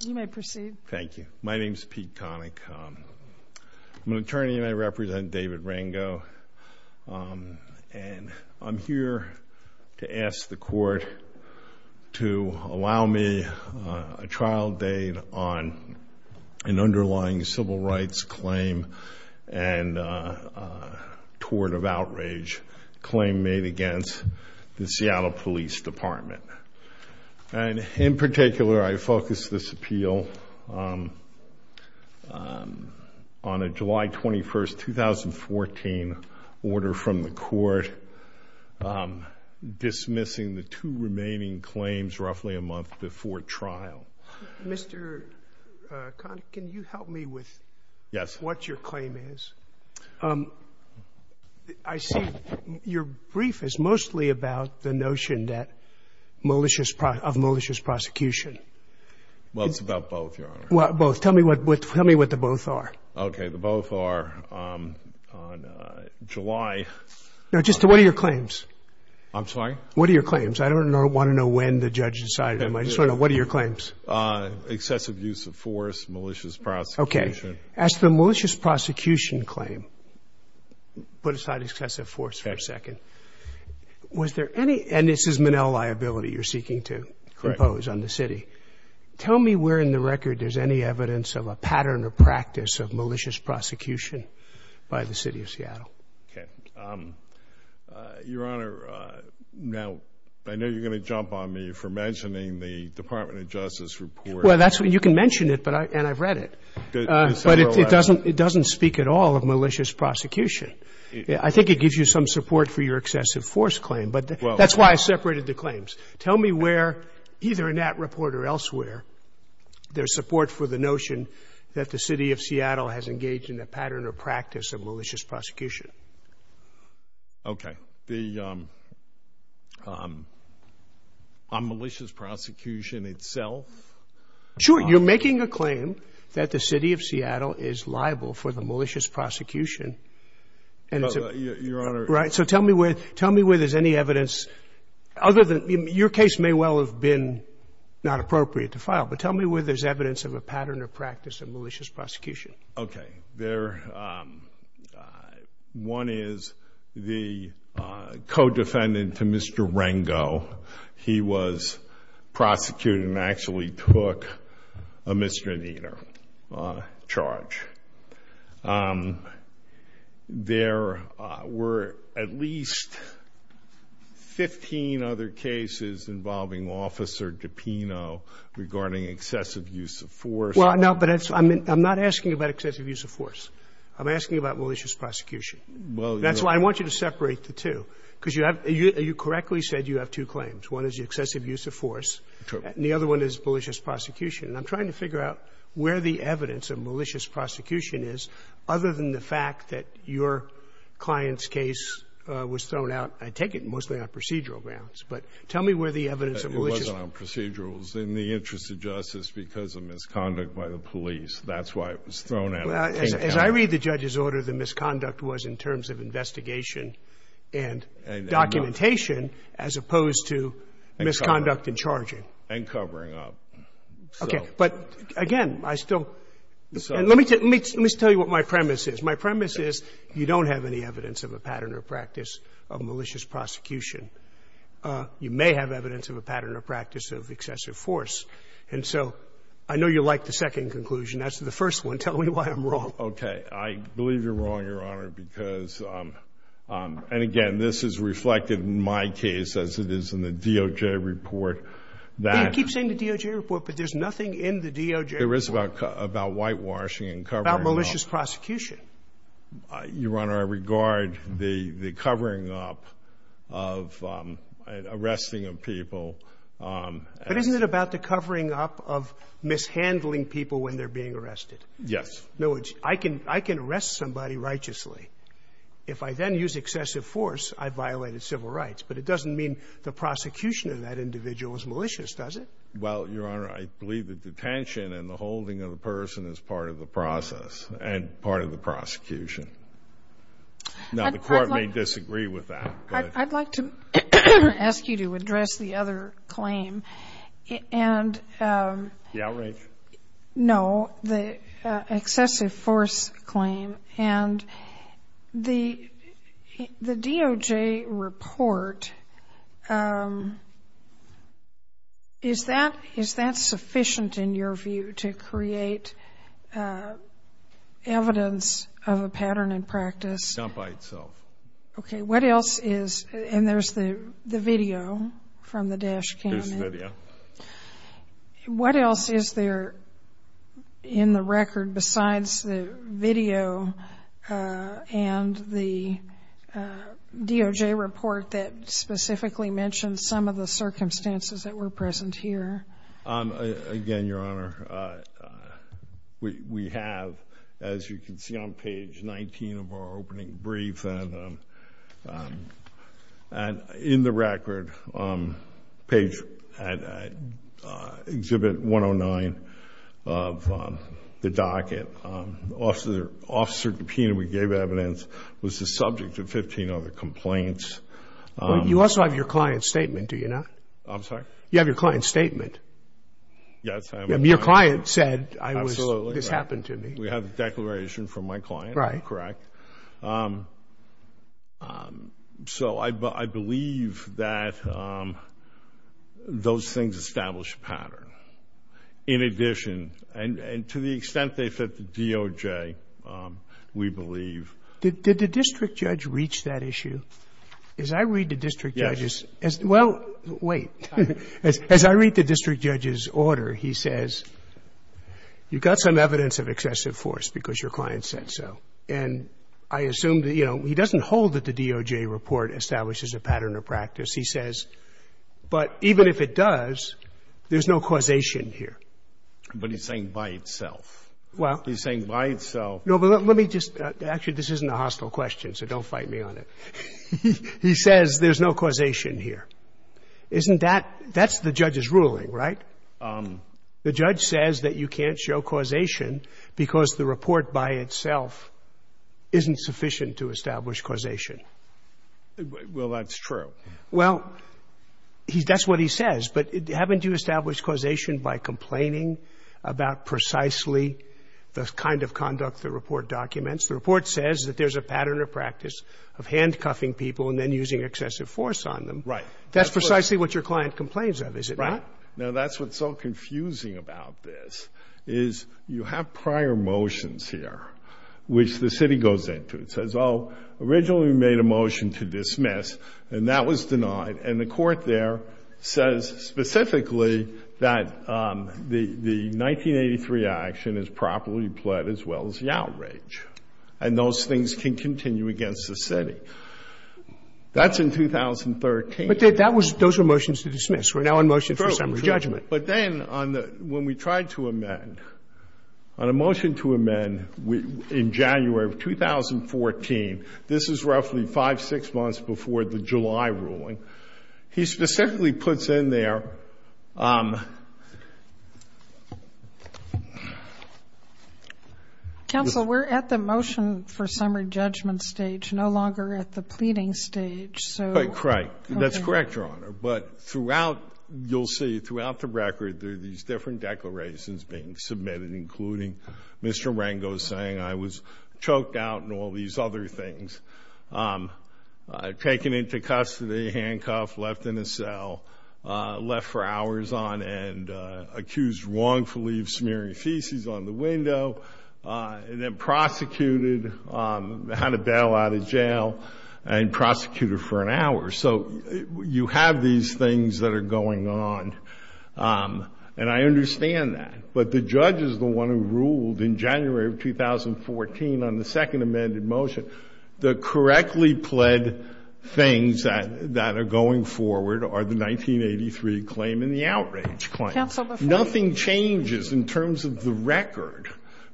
You may proceed. Thank you. My name is Pete Connick. I'm an attorney and I represent David Rengo and I'm here to ask the court to allow me a trial date on an underlying civil rights claim and a tort of outrage claim made against the Seattle Police Department. And in particular, I focus this appeal on a July 21, 2014, order from the court dismissing the two remaining claims roughly a month before trial. Mr. Connick, can you help me with what your claim is? I see your brief is mostly about the notion of malicious prosecution. Well, it's about both, Your Honor. Tell me what the both are. Okay, the both are on July... No, just what are your claims? I'm sorry? What are your claims? I don't want to know when the judge decided them. I just want to know what are your claims? Excessive use of force, malicious prosecution. Okay. As to the malicious prosecution claim, put aside excessive force for a second. Okay. Was there any, and this is Manel liability you're seeking to impose on the city. Correct. Tell me where in the record there's any evidence of a pattern or practice of malicious prosecution by the City of Seattle. Okay. Your Honor, now I know you're going to jump on me for mentioning the Department of Justice report. Well, you can mention it, and I've read it, but it doesn't speak at all of malicious prosecution. I think it gives you some support for your excessive force claim, but that's why I separated the claims. Tell me where, either in that report or elsewhere, there's support for the notion that the City of Seattle has engaged in a pattern or practice of malicious prosecution. Okay. On malicious prosecution itself? Sure. You're making a claim that the City of Seattle is liable for the malicious prosecution. Your Honor... Right. So tell me where there's any evidence, other than, your case may well have been not appropriate to file, but tell me where there's evidence of a pattern or practice of malicious prosecution. Okay. There, one is the co-defendant to Mr. Rango. He was prosecuted and actually took a misdemeanor charge. There were at least 15 other cases involving Officer DiPino regarding excessive use of force. Well, no, but I'm not asking about excessive use of force. I'm asking about malicious prosecution. That's why I want you to separate the two, because you correctly said you have two claims. One is the excessive use of force. True. And the other one is malicious prosecution. And I'm trying to figure out where the evidence of malicious prosecution is, other than the fact that your client's case was thrown out, I take it mostly on procedural grounds, but tell me where the evidence of malicious... It wasn't on procedurals. In the interest of justice, because of misconduct by the police, that's why it was thrown out. As I read the judge's order, the misconduct was in terms of investigation and documentation, as opposed to misconduct in charging. And covering up. Okay. But, again, I still — let me tell you what my premise is. My premise is you don't have any evidence of a pattern or practice of malicious prosecution. You may have evidence of a pattern or practice of excessive force. And so I know you like the second conclusion. That's the first one. Tell me why I'm wrong. Okay. I believe you're wrong, Your Honor, because — and, again, this is reflected in my case, as it is in the DOJ report, that... You keep saying the DOJ report, but there's nothing in the DOJ report... There is about whitewashing and covering up. About malicious prosecution. Your Honor, I regard the covering up of — arresting of people as... But isn't it about the covering up of mishandling people when they're being arrested? Yes. No, it's — I can arrest somebody righteously. If I then use excessive force, I've violated civil rights. But it doesn't mean the prosecution of that individual is malicious, does it? Well, Your Honor, I believe that detention and the holding of a person is part of the process and part of the prosecution. Now, the Court may disagree with that, but... I'd like to ask you to address the other claim. And... The outrage? No, the excessive force claim. And the DOJ report, is that sufficient in your view to create evidence of a pattern in practice? Not by itself. Okay. What else is — and there's the video from the dash cam. There's the video. What else is there in the record besides the video and the DOJ report that specifically mentions some of the circumstances that were present here? Again, Your Honor, we have, as you can see on page 19 of our opening brief, and in the record, page exhibit 109 of the docket, Officer DiPino, we gave evidence, was the subject of 15 other complaints. You also have your client's statement, do you not? I'm sorry? You have your client's statement. Yes, I have. Your client said, this happened to me. We have the declaration from my client, correct? Right. So I believe that those things establish a pattern. In addition, and to the extent they fit the DOJ, we believe. Did the district judge reach that issue? Yes. As I read the district judge's — well, wait. As I read the district judge's order, he says, You've got some evidence of excessive force because your client said so. And I assume that, you know, he doesn't hold that the DOJ report establishes a pattern or practice. He says, but even if it does, there's no causation here. But he's saying by itself. Well — He's saying by itself. No, but let me just — actually, this isn't a hostile question, so don't fight me on it. He says there's no causation here. Isn't that — that's the judge's ruling, right? The judge says that you can't show causation because the report by itself isn't sufficient to establish causation. Well, that's true. Well, that's what he says. But haven't you established causation by complaining about precisely the kind of conduct the report documents? The report says that there's a pattern or practice of handcuffing people and then using excessive force on them. Right. That's precisely what your client complains of, is it not? Now, that's what's so confusing about this, is you have prior motions here, which the city goes into. It says, oh, originally we made a motion to dismiss, and that was denied. And the court there says specifically that the 1983 action is properly pled as well as the outrage. And those things can continue against the city. That's in 2013. But that was — those were motions to dismiss. We're now in motion for summary judgment. But then on the — when we tried to amend, on a motion to amend in January of 2014, this is roughly five, six months before the July ruling, he specifically puts in there — Counsel, we're at the motion for summary judgment stage, no longer at the pleading stage. So — That's correct, Your Honor. But throughout, you'll see throughout the record, there are these different declarations being submitted, including Mr. Rengo saying I was choked out and all these other things, taken into custody, handcuffed, left in a cell, left for hours on end, accused wrongfully of smearing feces on the window, and then prosecuted, had to bail out of jail and prosecuted for an hour. So you have these things that are going on. And I understand that. But the judge is the one who ruled in January of 2014 on the second amended motion. The correctly pled things that are going forward are the 1983 claim and the outrage claim. Counsel, before — Nothing changes in terms of the record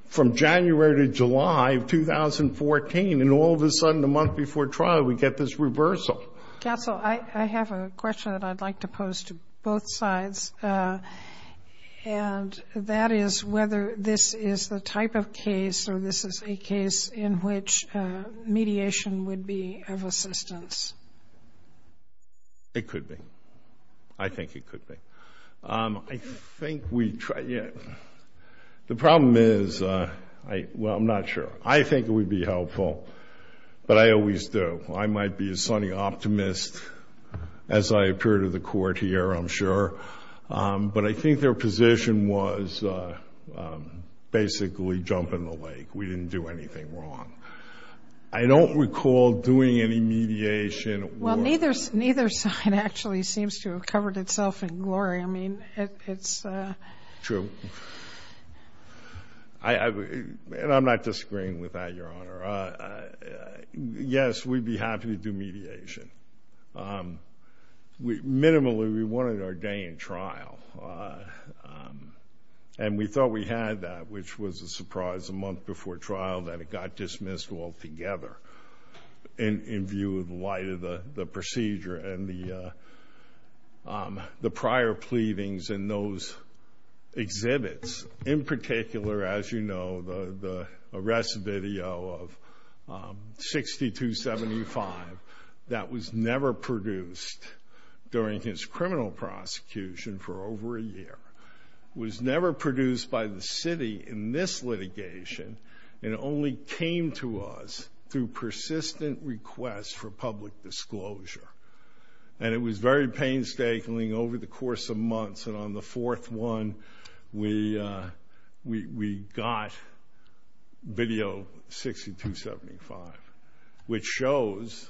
from January to July of 2014. And all of a sudden, a month before trial, we get this reversal. Counsel, I have a question that I'd like to pose to both sides, and that is whether this is the type of case or this is a case in which mediation would be of assistance. It could be. I think it could be. I think we — the problem is — well, I'm not sure. I think it would be helpful, but I always do. I might be a sunny optimist as I appear to the Court here, I'm sure. But I think their position was basically jump in the lake. We didn't do anything wrong. I don't recall doing any mediation or — Well, neither side actually seems to have covered itself in glory. I mean, it's — True. And I'm not disagreeing with that, Your Honor. Yes, we'd be happy to do mediation. Minimally, we wanted our day in trial, and we thought we had that, which was a surprise a month before trial that it got dismissed altogether in view of the light of the procedure and the prior pleadings and those exhibits. In particular, as you know, the arrest video of 6275 that was never produced during his criminal prosecution for over a year, was never produced by the city in this litigation, and it only came to us through persistent requests for public disclosure. And it was very painstakingly over the course of months, and on the fourth one, we got video 6275, which shows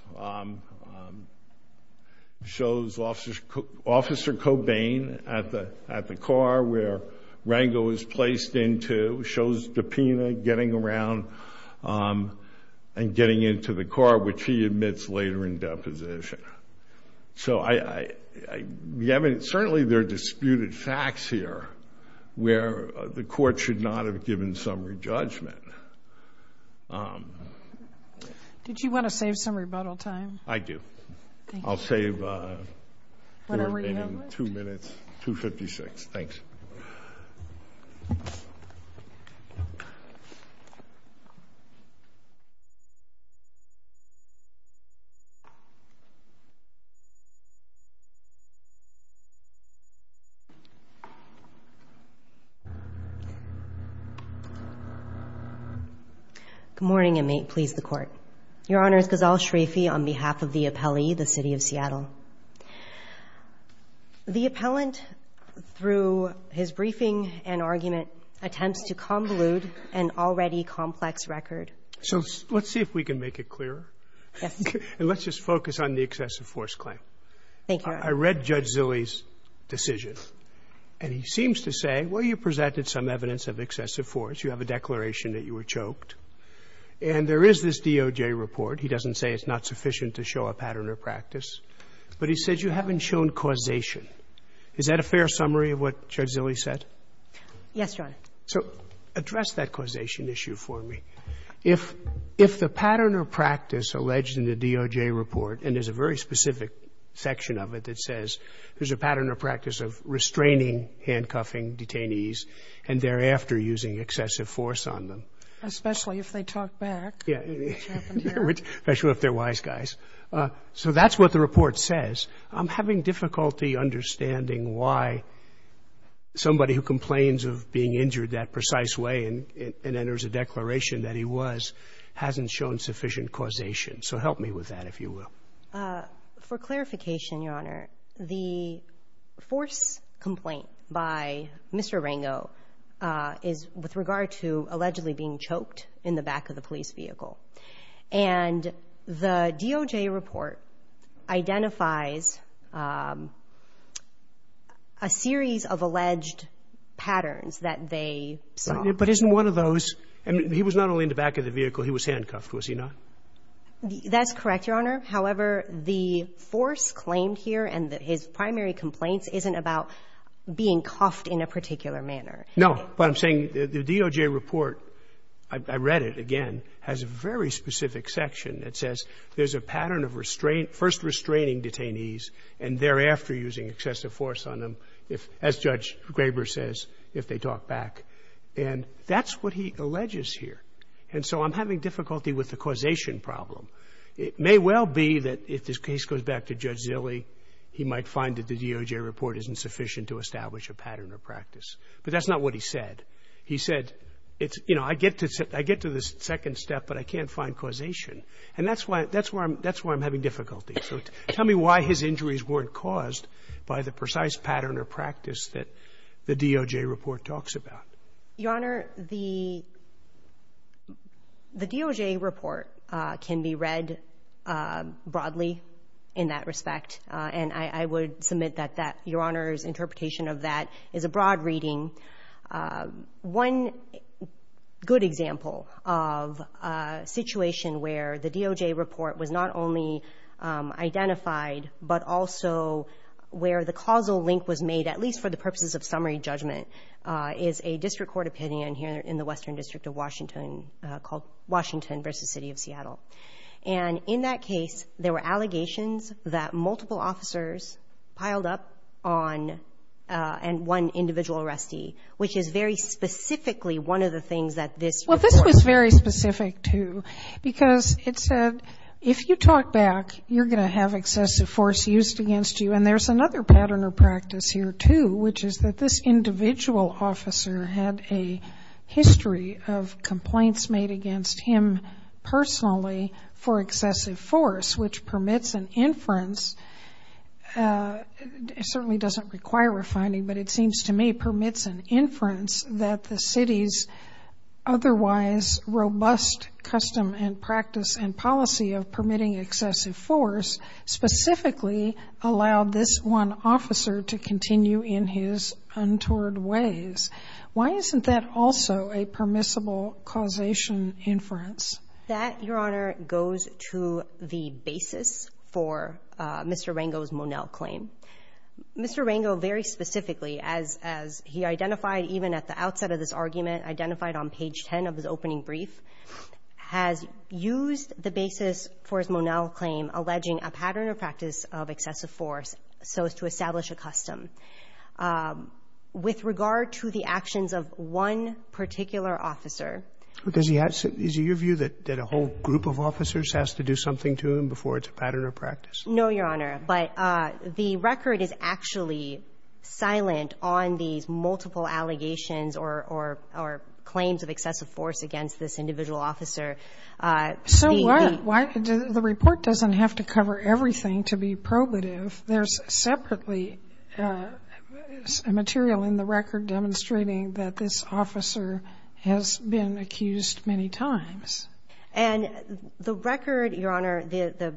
Officer Cobain at the car where Rango is placed into, shows Dapena getting around and getting into the car, which he admits later in deposition. So certainly there are disputed facts here where the court should not have given some re-judgment. Did you want to save some rebuttal time? I do. I'll save two minutes, 256. Thanks. Good morning, and may it please the Court. Your Honor, it's Ghazal Sharifi on behalf of the appellee, the City of Seattle. The appellant, through his briefing and argument, attempts to convolute an already complex record. So let's see if we can make it clearer. Yes. And let's just focus on the excessive force claim. Thank you, Your Honor. I read Judge Zille's decision, and he seems to say, well, you presented some evidence of excessive force. You have a declaration that you were choked. And there is this DOJ report. He doesn't say it's not sufficient to show a pattern or practice. But he said you haven't shown causation. Is that a fair summary of what Judge Zille said? Yes, Your Honor. So address that causation issue for me. If the pattern or practice alleged in the DOJ report, and there's a very specific section of it that says there's a pattern or practice of restraining handcuffing detainees and thereafter using excessive force on them. Especially if they talk back. Yeah. Especially if they're wise guys. So that's what the report says. I'm having difficulty understanding why somebody who complains of being injured that precise way and enters a declaration that he was, hasn't shown sufficient causation. So help me with that, if you will. For clarification, Your Honor, the force complaint by Mr. Rango is with regard to allegedly being choked in the back of the police vehicle. And the DOJ report identifies a series of alleged patterns that they saw. But isn't one of those, and he was not only in the back of the vehicle, he was handcuffed, was he not? That's correct, Your Honor. However, the force claimed here and his primary complaints isn't about being cuffed in a particular manner. No, but I'm saying the DOJ report, I read it again, has a very specific section that says there's a pattern of first restraining detainees and thereafter using excessive force on them, as Judge Graber says, if they talk back. And that's what he alleges here. And so I'm having difficulty with the causation problem. It may well be that if this case goes back to Judge Zille, he might find that the DOJ report isn't sufficient to establish a pattern or practice. But that's not what he said. He said, you know, I get to the second step, but I can't find causation. And that's why I'm having difficulty. So tell me why his injuries weren't caused by the precise pattern or practice that the DOJ report talks about. Your Honor, the DOJ report can be read broadly in that respect. And I would submit that Your Honor's interpretation of that is a broad reading One good example of a situation where the DOJ report was not only identified, but also where the causal link was made, at least for the purposes of summary judgment, is a district court opinion here in the Western District of Washington called Washington versus City of Seattle. And in that case, there were allegations that multiple officers piled up on one individual arrestee, which is very specifically one of the things that this report. Well, this was very specific, too. Because it said, if you talk back, you're going to have excessive force used against you. And there's another pattern or practice here, too, which is that this individual officer had a history of complaints made against him personally for excessive force, which permits an inference. It certainly doesn't require a finding, but it seems to me permits an inference that the city's otherwise robust custom and practice and policy of permitting excessive force specifically allowed this one officer to continue in his untoward ways. Why isn't that also a permissible causation inference? That, Your Honor, goes to the basis for Mr. Rango's Monell claim. Mr. Rango very specifically, as he identified even at the outset of this argument, identified on page 10 of his opening brief, has used the basis for his Monell claim alleging a pattern or practice of excessive force so as to establish a custom. With regard to the actions of one particular officer, Is it your view that a whole group of officers has to do something to him before it's a pattern or practice? No, Your Honor. But the record is actually silent on these multiple allegations or claims of excessive force against this individual officer. The report doesn't have to cover everything to be probative. There's separately material in the record demonstrating that this officer has been accused many times. And the record, Your Honor, the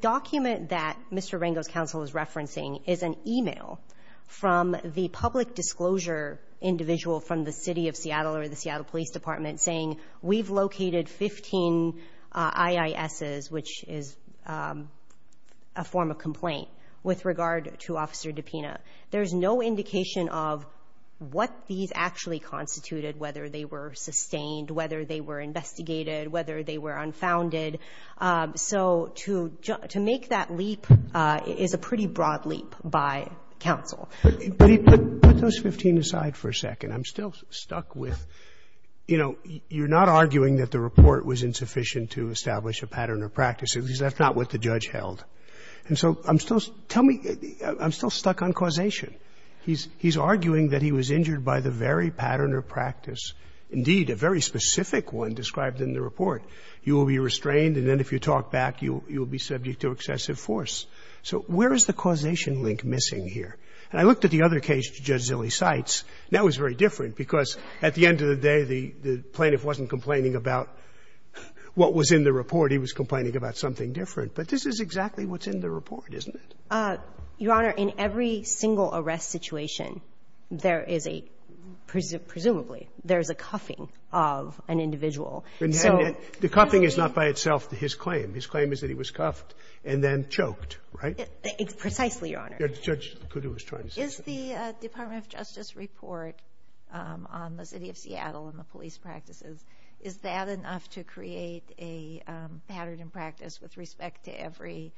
document that Mr. Rango's counsel is referencing is an e-mail from the public disclosure individual from the City of Seattle or the Seattle Police Department saying we've located 15 IISs, which is a form of complaint with regard to Officer DiPina. There's no indication of what these actually constituted, whether they were sustained, whether they were investigated, whether they were unfounded. So to make that leap is a pretty broad leap by counsel. But put those 15 aside for a second. I'm still stuck with, you know, you're not arguing that the report was insufficient to establish a pattern or practice. That's not what the judge held. And so I'm still stuck on causation. He's arguing that he was injured by the very pattern or practice, indeed a very specific one described in the report. You will be restrained, and then if you talk back, you will be subject to excessive force. So where is the causation link missing here? And I looked at the other case Judge Zille cites, and that was very different because at the end of the day, the plaintiff wasn't complaining about what was in the report. He was complaining about something different. But this is exactly what's in the report, isn't it? Your Honor, in every single arrest situation, there is a presumably there is a cuffing of an individual. And the cuffing is not by itself his claim. His claim is that he was cuffed and then choked, right? Precisely, Your Honor. Judge Kudu was trying to say something. Is the Department of Justice report on the city of Seattle and the police practices, is that enough to create a pattern and practice with respect to every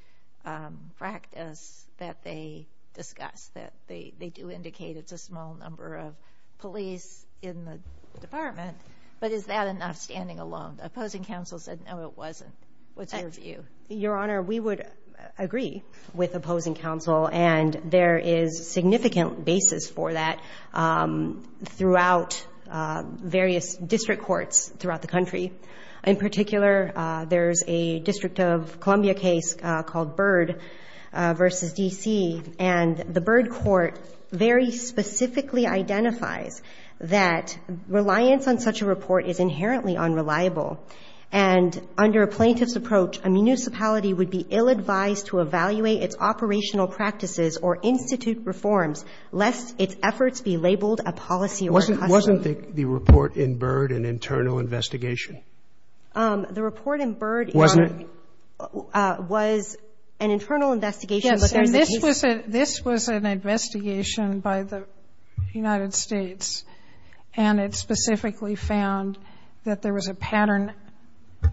practice that they discuss, that they do indicate it's a small number of police in the department? But is that enough standing alone? The opposing counsel said no, it wasn't. What's your view? Your Honor, we would agree with opposing counsel, and there is significant basis for that throughout various district courts throughout the country. In particular, there's a District of Columbia case called Byrd v. D.C. And the Byrd court very specifically identifies that reliance on such a report is inherently unreliable. And under a plaintiff's approach, a municipality would be ill-advised to evaluate its operational practices or institute reforms lest its efforts be labeled a policy or a custom. Wasn't the report in Byrd an internal investigation? The report in Byrd, Your Honor, was an internal investigation, but there's a case. Yes, and this was an investigation by the United States, and it specifically found that there was a pattern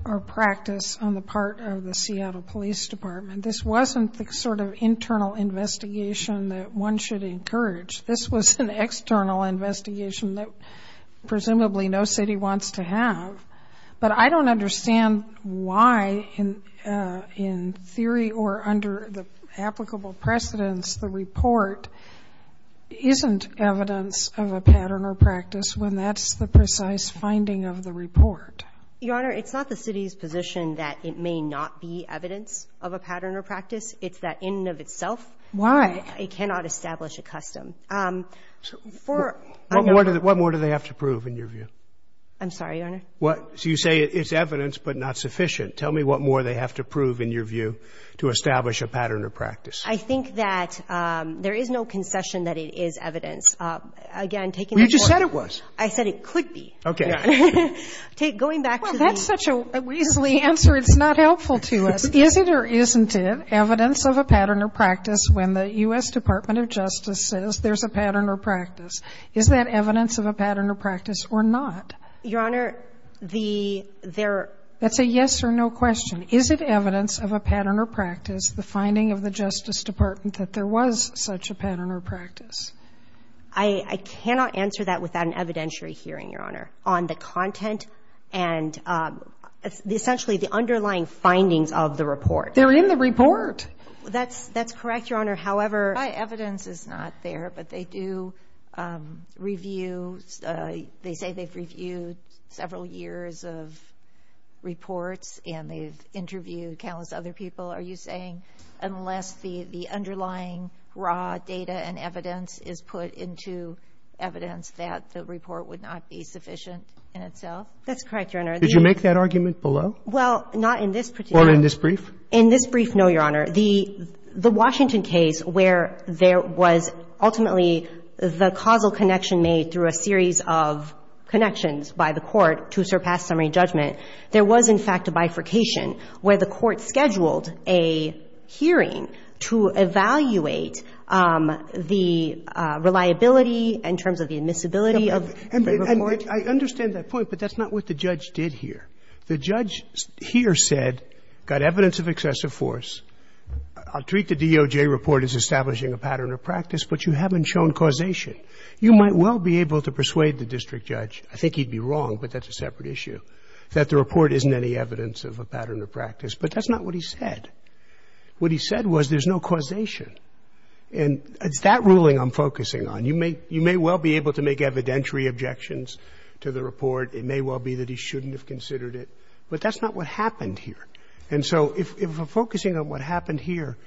or practice on the part of the Seattle Police Department. This wasn't the sort of internal investigation that one should encourage. This was an external investigation that presumably no city wants to have. But I don't understand why, in theory or under the applicable precedents, the report isn't evidence of a pattern or practice when that's the precise finding of the report. Your Honor, it's not the city's position that it may not be evidence of a pattern or practice. It's that in and of itself. Why? It cannot establish a custom. What more do they have to prove, in your view? I'm sorry, Your Honor? So you say it's evidence, but not sufficient. Tell me what more they have to prove, in your view, to establish a pattern or practice. I think that there is no concession that it is evidence. Again, taking the court's view. You just said it was. I said it could be. Okay. Well, that's such a weaselly answer. It's not helpful to us. Is it or isn't it evidence of a pattern or practice when the U.S. Department of Justice says there's a pattern or practice? Is that evidence of a pattern or practice or not? Your Honor, the — That's a yes or no question. Is it evidence of a pattern or practice, the finding of the Justice Department, that there was such a pattern or practice? I cannot answer that without an evidentiary hearing, Your Honor, on the content and essentially the underlying findings of the report. They're in the report. That's correct, Your Honor. However — My evidence is not there, but they do review — they say they've reviewed several years of reports, and they've interviewed countless other people. Are you saying unless the underlying raw data and evidence is put into evidence that the report would not be sufficient in itself? That's correct, Your Honor. Did you make that argument below? Well, not in this particular — Or in this brief? In this brief, no, Your Honor. The Washington case where there was ultimately the causal connection made through a series of connections by the court to surpass summary judgment, there was, in fact, a bifurcation where the court scheduled a hearing to evaluate the reliability in terms of the admissibility of the report. And I understand that point, but that's not what the judge did here. The judge here said, got evidence of excessive force. I'll treat the DOJ report as establishing a pattern of practice, but you haven't shown causation. You might well be able to persuade the district judge — I think he'd be wrong, but that's a separate issue — that the report isn't any evidence of a pattern of practice. But that's not what he said. What he said was there's no causation. And it's that ruling I'm focusing on. You may well be able to make evidentiary objections to the report. It may well be that he shouldn't have considered it. But that's not what happened here. And so if we're focusing on what happened here,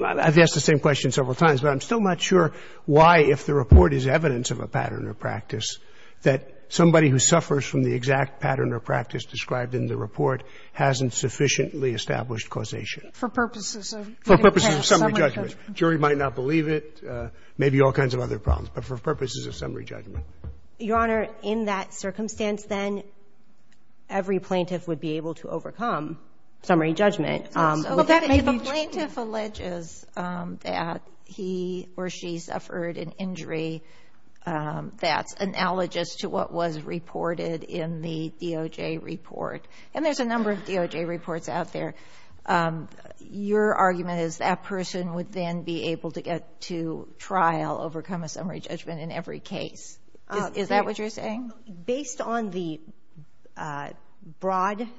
I've asked the same question that somebody who suffers from the exact pattern of practice described in the report hasn't sufficiently established causation. For purposes of getting past summary judgment. For purposes of summary judgment. The jury might not believe it, maybe all kinds of other problems, but for purposes of summary judgment. Your Honor, in that circumstance, then every plaintiff would be able to overcome summary judgment. But that may be true. If a plaintiff alleges that he or she suffered an injury that's analogous to what was reported in the DOJ report — and there's a number of DOJ reports out there — your argument is that person would then be able to get to trial, overcome a summary judgment in every case. Is that what you're saying? Based on the broad —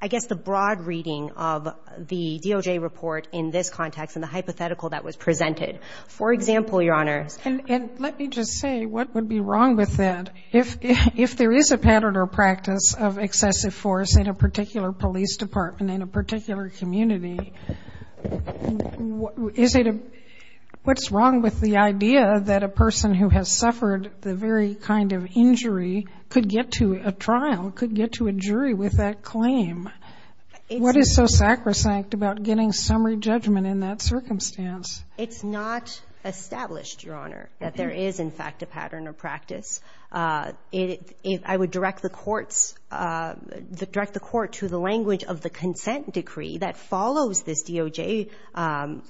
I guess the broad reading of the DOJ report in this context and the hypothetical that was presented. For example, Your Honor — And let me just say, what would be wrong with that? If there is a pattern or practice of excessive force in a particular police department, in a particular community, is it a — what's wrong with the idea that a person who has suffered the very kind of injury could get to a trial, could get to a jury with that claim? What is so sacrosanct about getting summary judgment in that circumstance? It's not established, Your Honor, that there is, in fact, a pattern or practice. I would direct the courts — direct the court to the language of the consent decree that follows this DOJ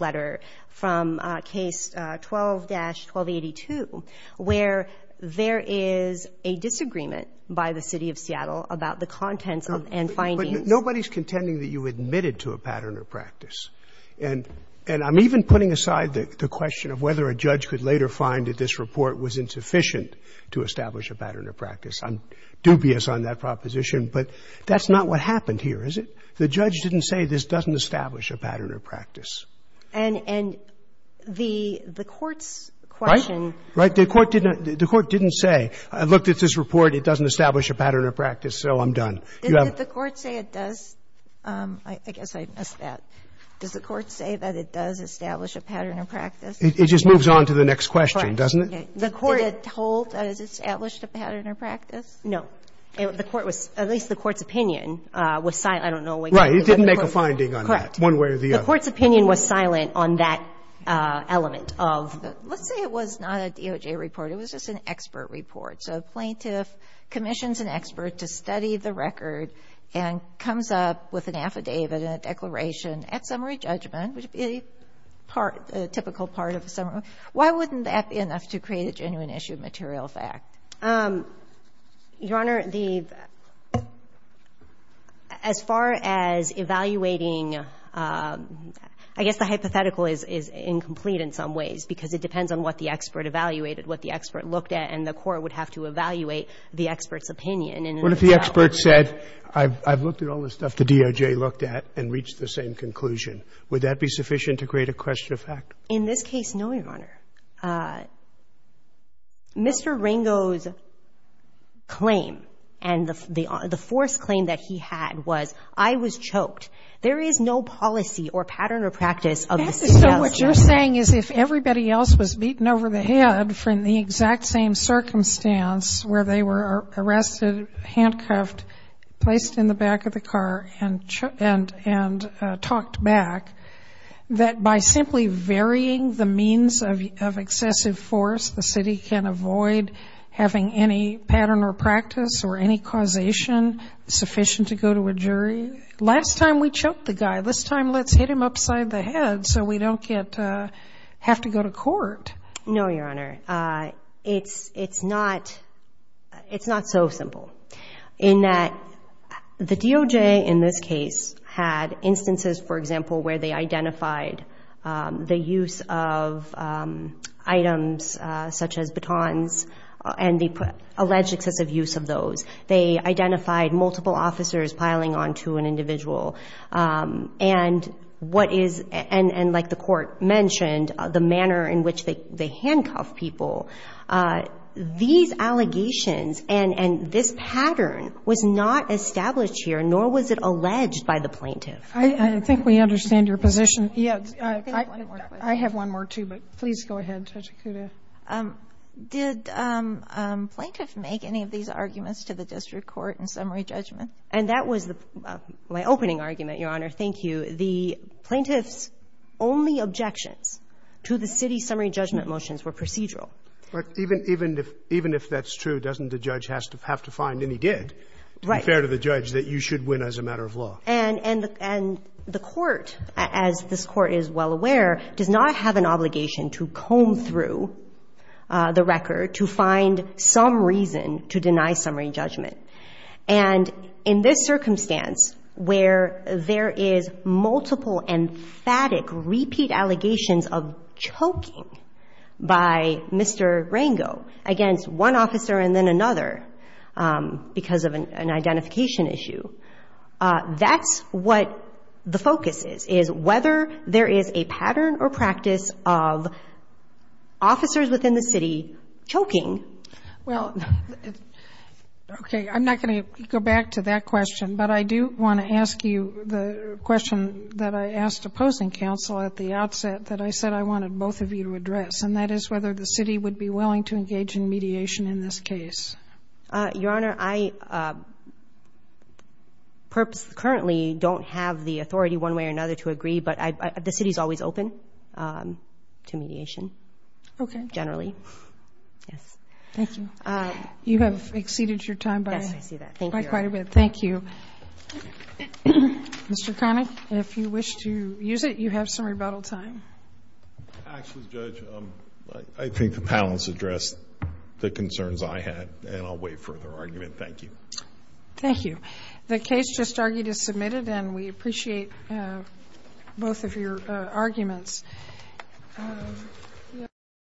letter from Case 12-1282, where there is a disagreement by the City of Seattle about the contents and findings. But nobody's contending that you admitted to a pattern or practice. And I'm even putting aside the question of whether a judge could later find that this report was insufficient to establish a pattern or practice. I'm dubious on that proposition. But that's not what happened here, is it? The judge didn't say this doesn't establish a pattern or practice. And the court's question — Right? Right? The court didn't say, I looked at this report, it doesn't establish a pattern or practice, so I'm done. You have — Didn't the court say it does? I guess I missed that. Does the court say that it does establish a pattern or practice? It just moves on to the next question, doesn't it? Correct. Okay. Did it hold that it established a pattern or practice? The court was — at least the court's opinion was silent. I don't know exactly what the court — Right. It didn't make a finding on that. Correct. One way or the other. The court's opinion was silent on that element of — Let's say it was not a DOJ report. It was just an expert report. So a plaintiff commissions an expert to study the record and comes up with an affidavit and a declaration at summary judgment, which would be part — a typical part of a summary report. Why wouldn't that be enough to create a genuine issue of material fact? Your Honor, the — as far as evaluating — I guess the hypothetical is incomplete in some ways, because it depends on what the expert evaluated, what the expert looked at, and the court would have to evaluate the expert's opinion. What if the expert said, I've looked at all this stuff the DOJ looked at and reached the same conclusion? Would that be sufficient to create a question of fact? In this case, no, Your Honor. Mr. Ringo's claim and the forced claim that he had was, I was choked. There is no policy or pattern or practice of — So what you're saying is if everybody else was beaten over the head from the exact same circumstance where they were arrested, handcuffed, placed in the back of the car, and choked — and talked back, that by simply varying the means of excessive force, the city can avoid having any pattern or practice or any causation sufficient to go to a jury? Last time we choked the guy. This time let's hit him upside the head so we don't get — have to go to court. No, Your Honor. It's not so simple in that the DOJ in this case had instances, for example, where they identified the use of items such as batons and the alleged excessive use of those. They identified multiple officers piling onto an individual. And what is — and like the Court mentioned, the manner in which they handcuff people, these allegations and this pattern was not established here, nor was it alleged by the plaintiff. I think we understand your position. Yes. I have one more, too, but please go ahead, Judge Acuda. Did plaintiff make any of these arguments to the district court in summary judgment? And that was my opening argument, Your Honor. Thank you. The plaintiff's only objections to the city's summary judgment motions were procedural. But even if that's true, doesn't the judge have to find any dead to compare to the judge that you should win as a matter of law? And the Court, as this Court is well aware, does not have an obligation to comb through the record to find some reason to deny summary judgment. And in this circumstance, where there is multiple emphatic repeat allegations of choking by Mr. Rango against one officer and then another because of an identification issue, that's what the focus is, is whether there is a pattern or practice of officers within the city choking. Well, okay, I'm not going to go back to that question, but I do want to ask you the question that I asked opposing counsel at the outset that I said I wanted both of you to address, and that is whether the city would be willing to engage in mediation in this case. Your Honor, I currently don't have the authority one way or another to agree, but the city is always open to mediation. Okay. Generally. Yes. Thank you. You have exceeded your time by quite a bit. Yes, I see that. Thank you, Your Honor. Thank you. Mr. Connick, if you wish to use it, you have some rebuttal time. Actually, Judge, I think the panelists addressed the concerns I had, and I'll wait for their argument. Thank you. Thank you. The case just argued is submitted, and we appreciate both of your arguments.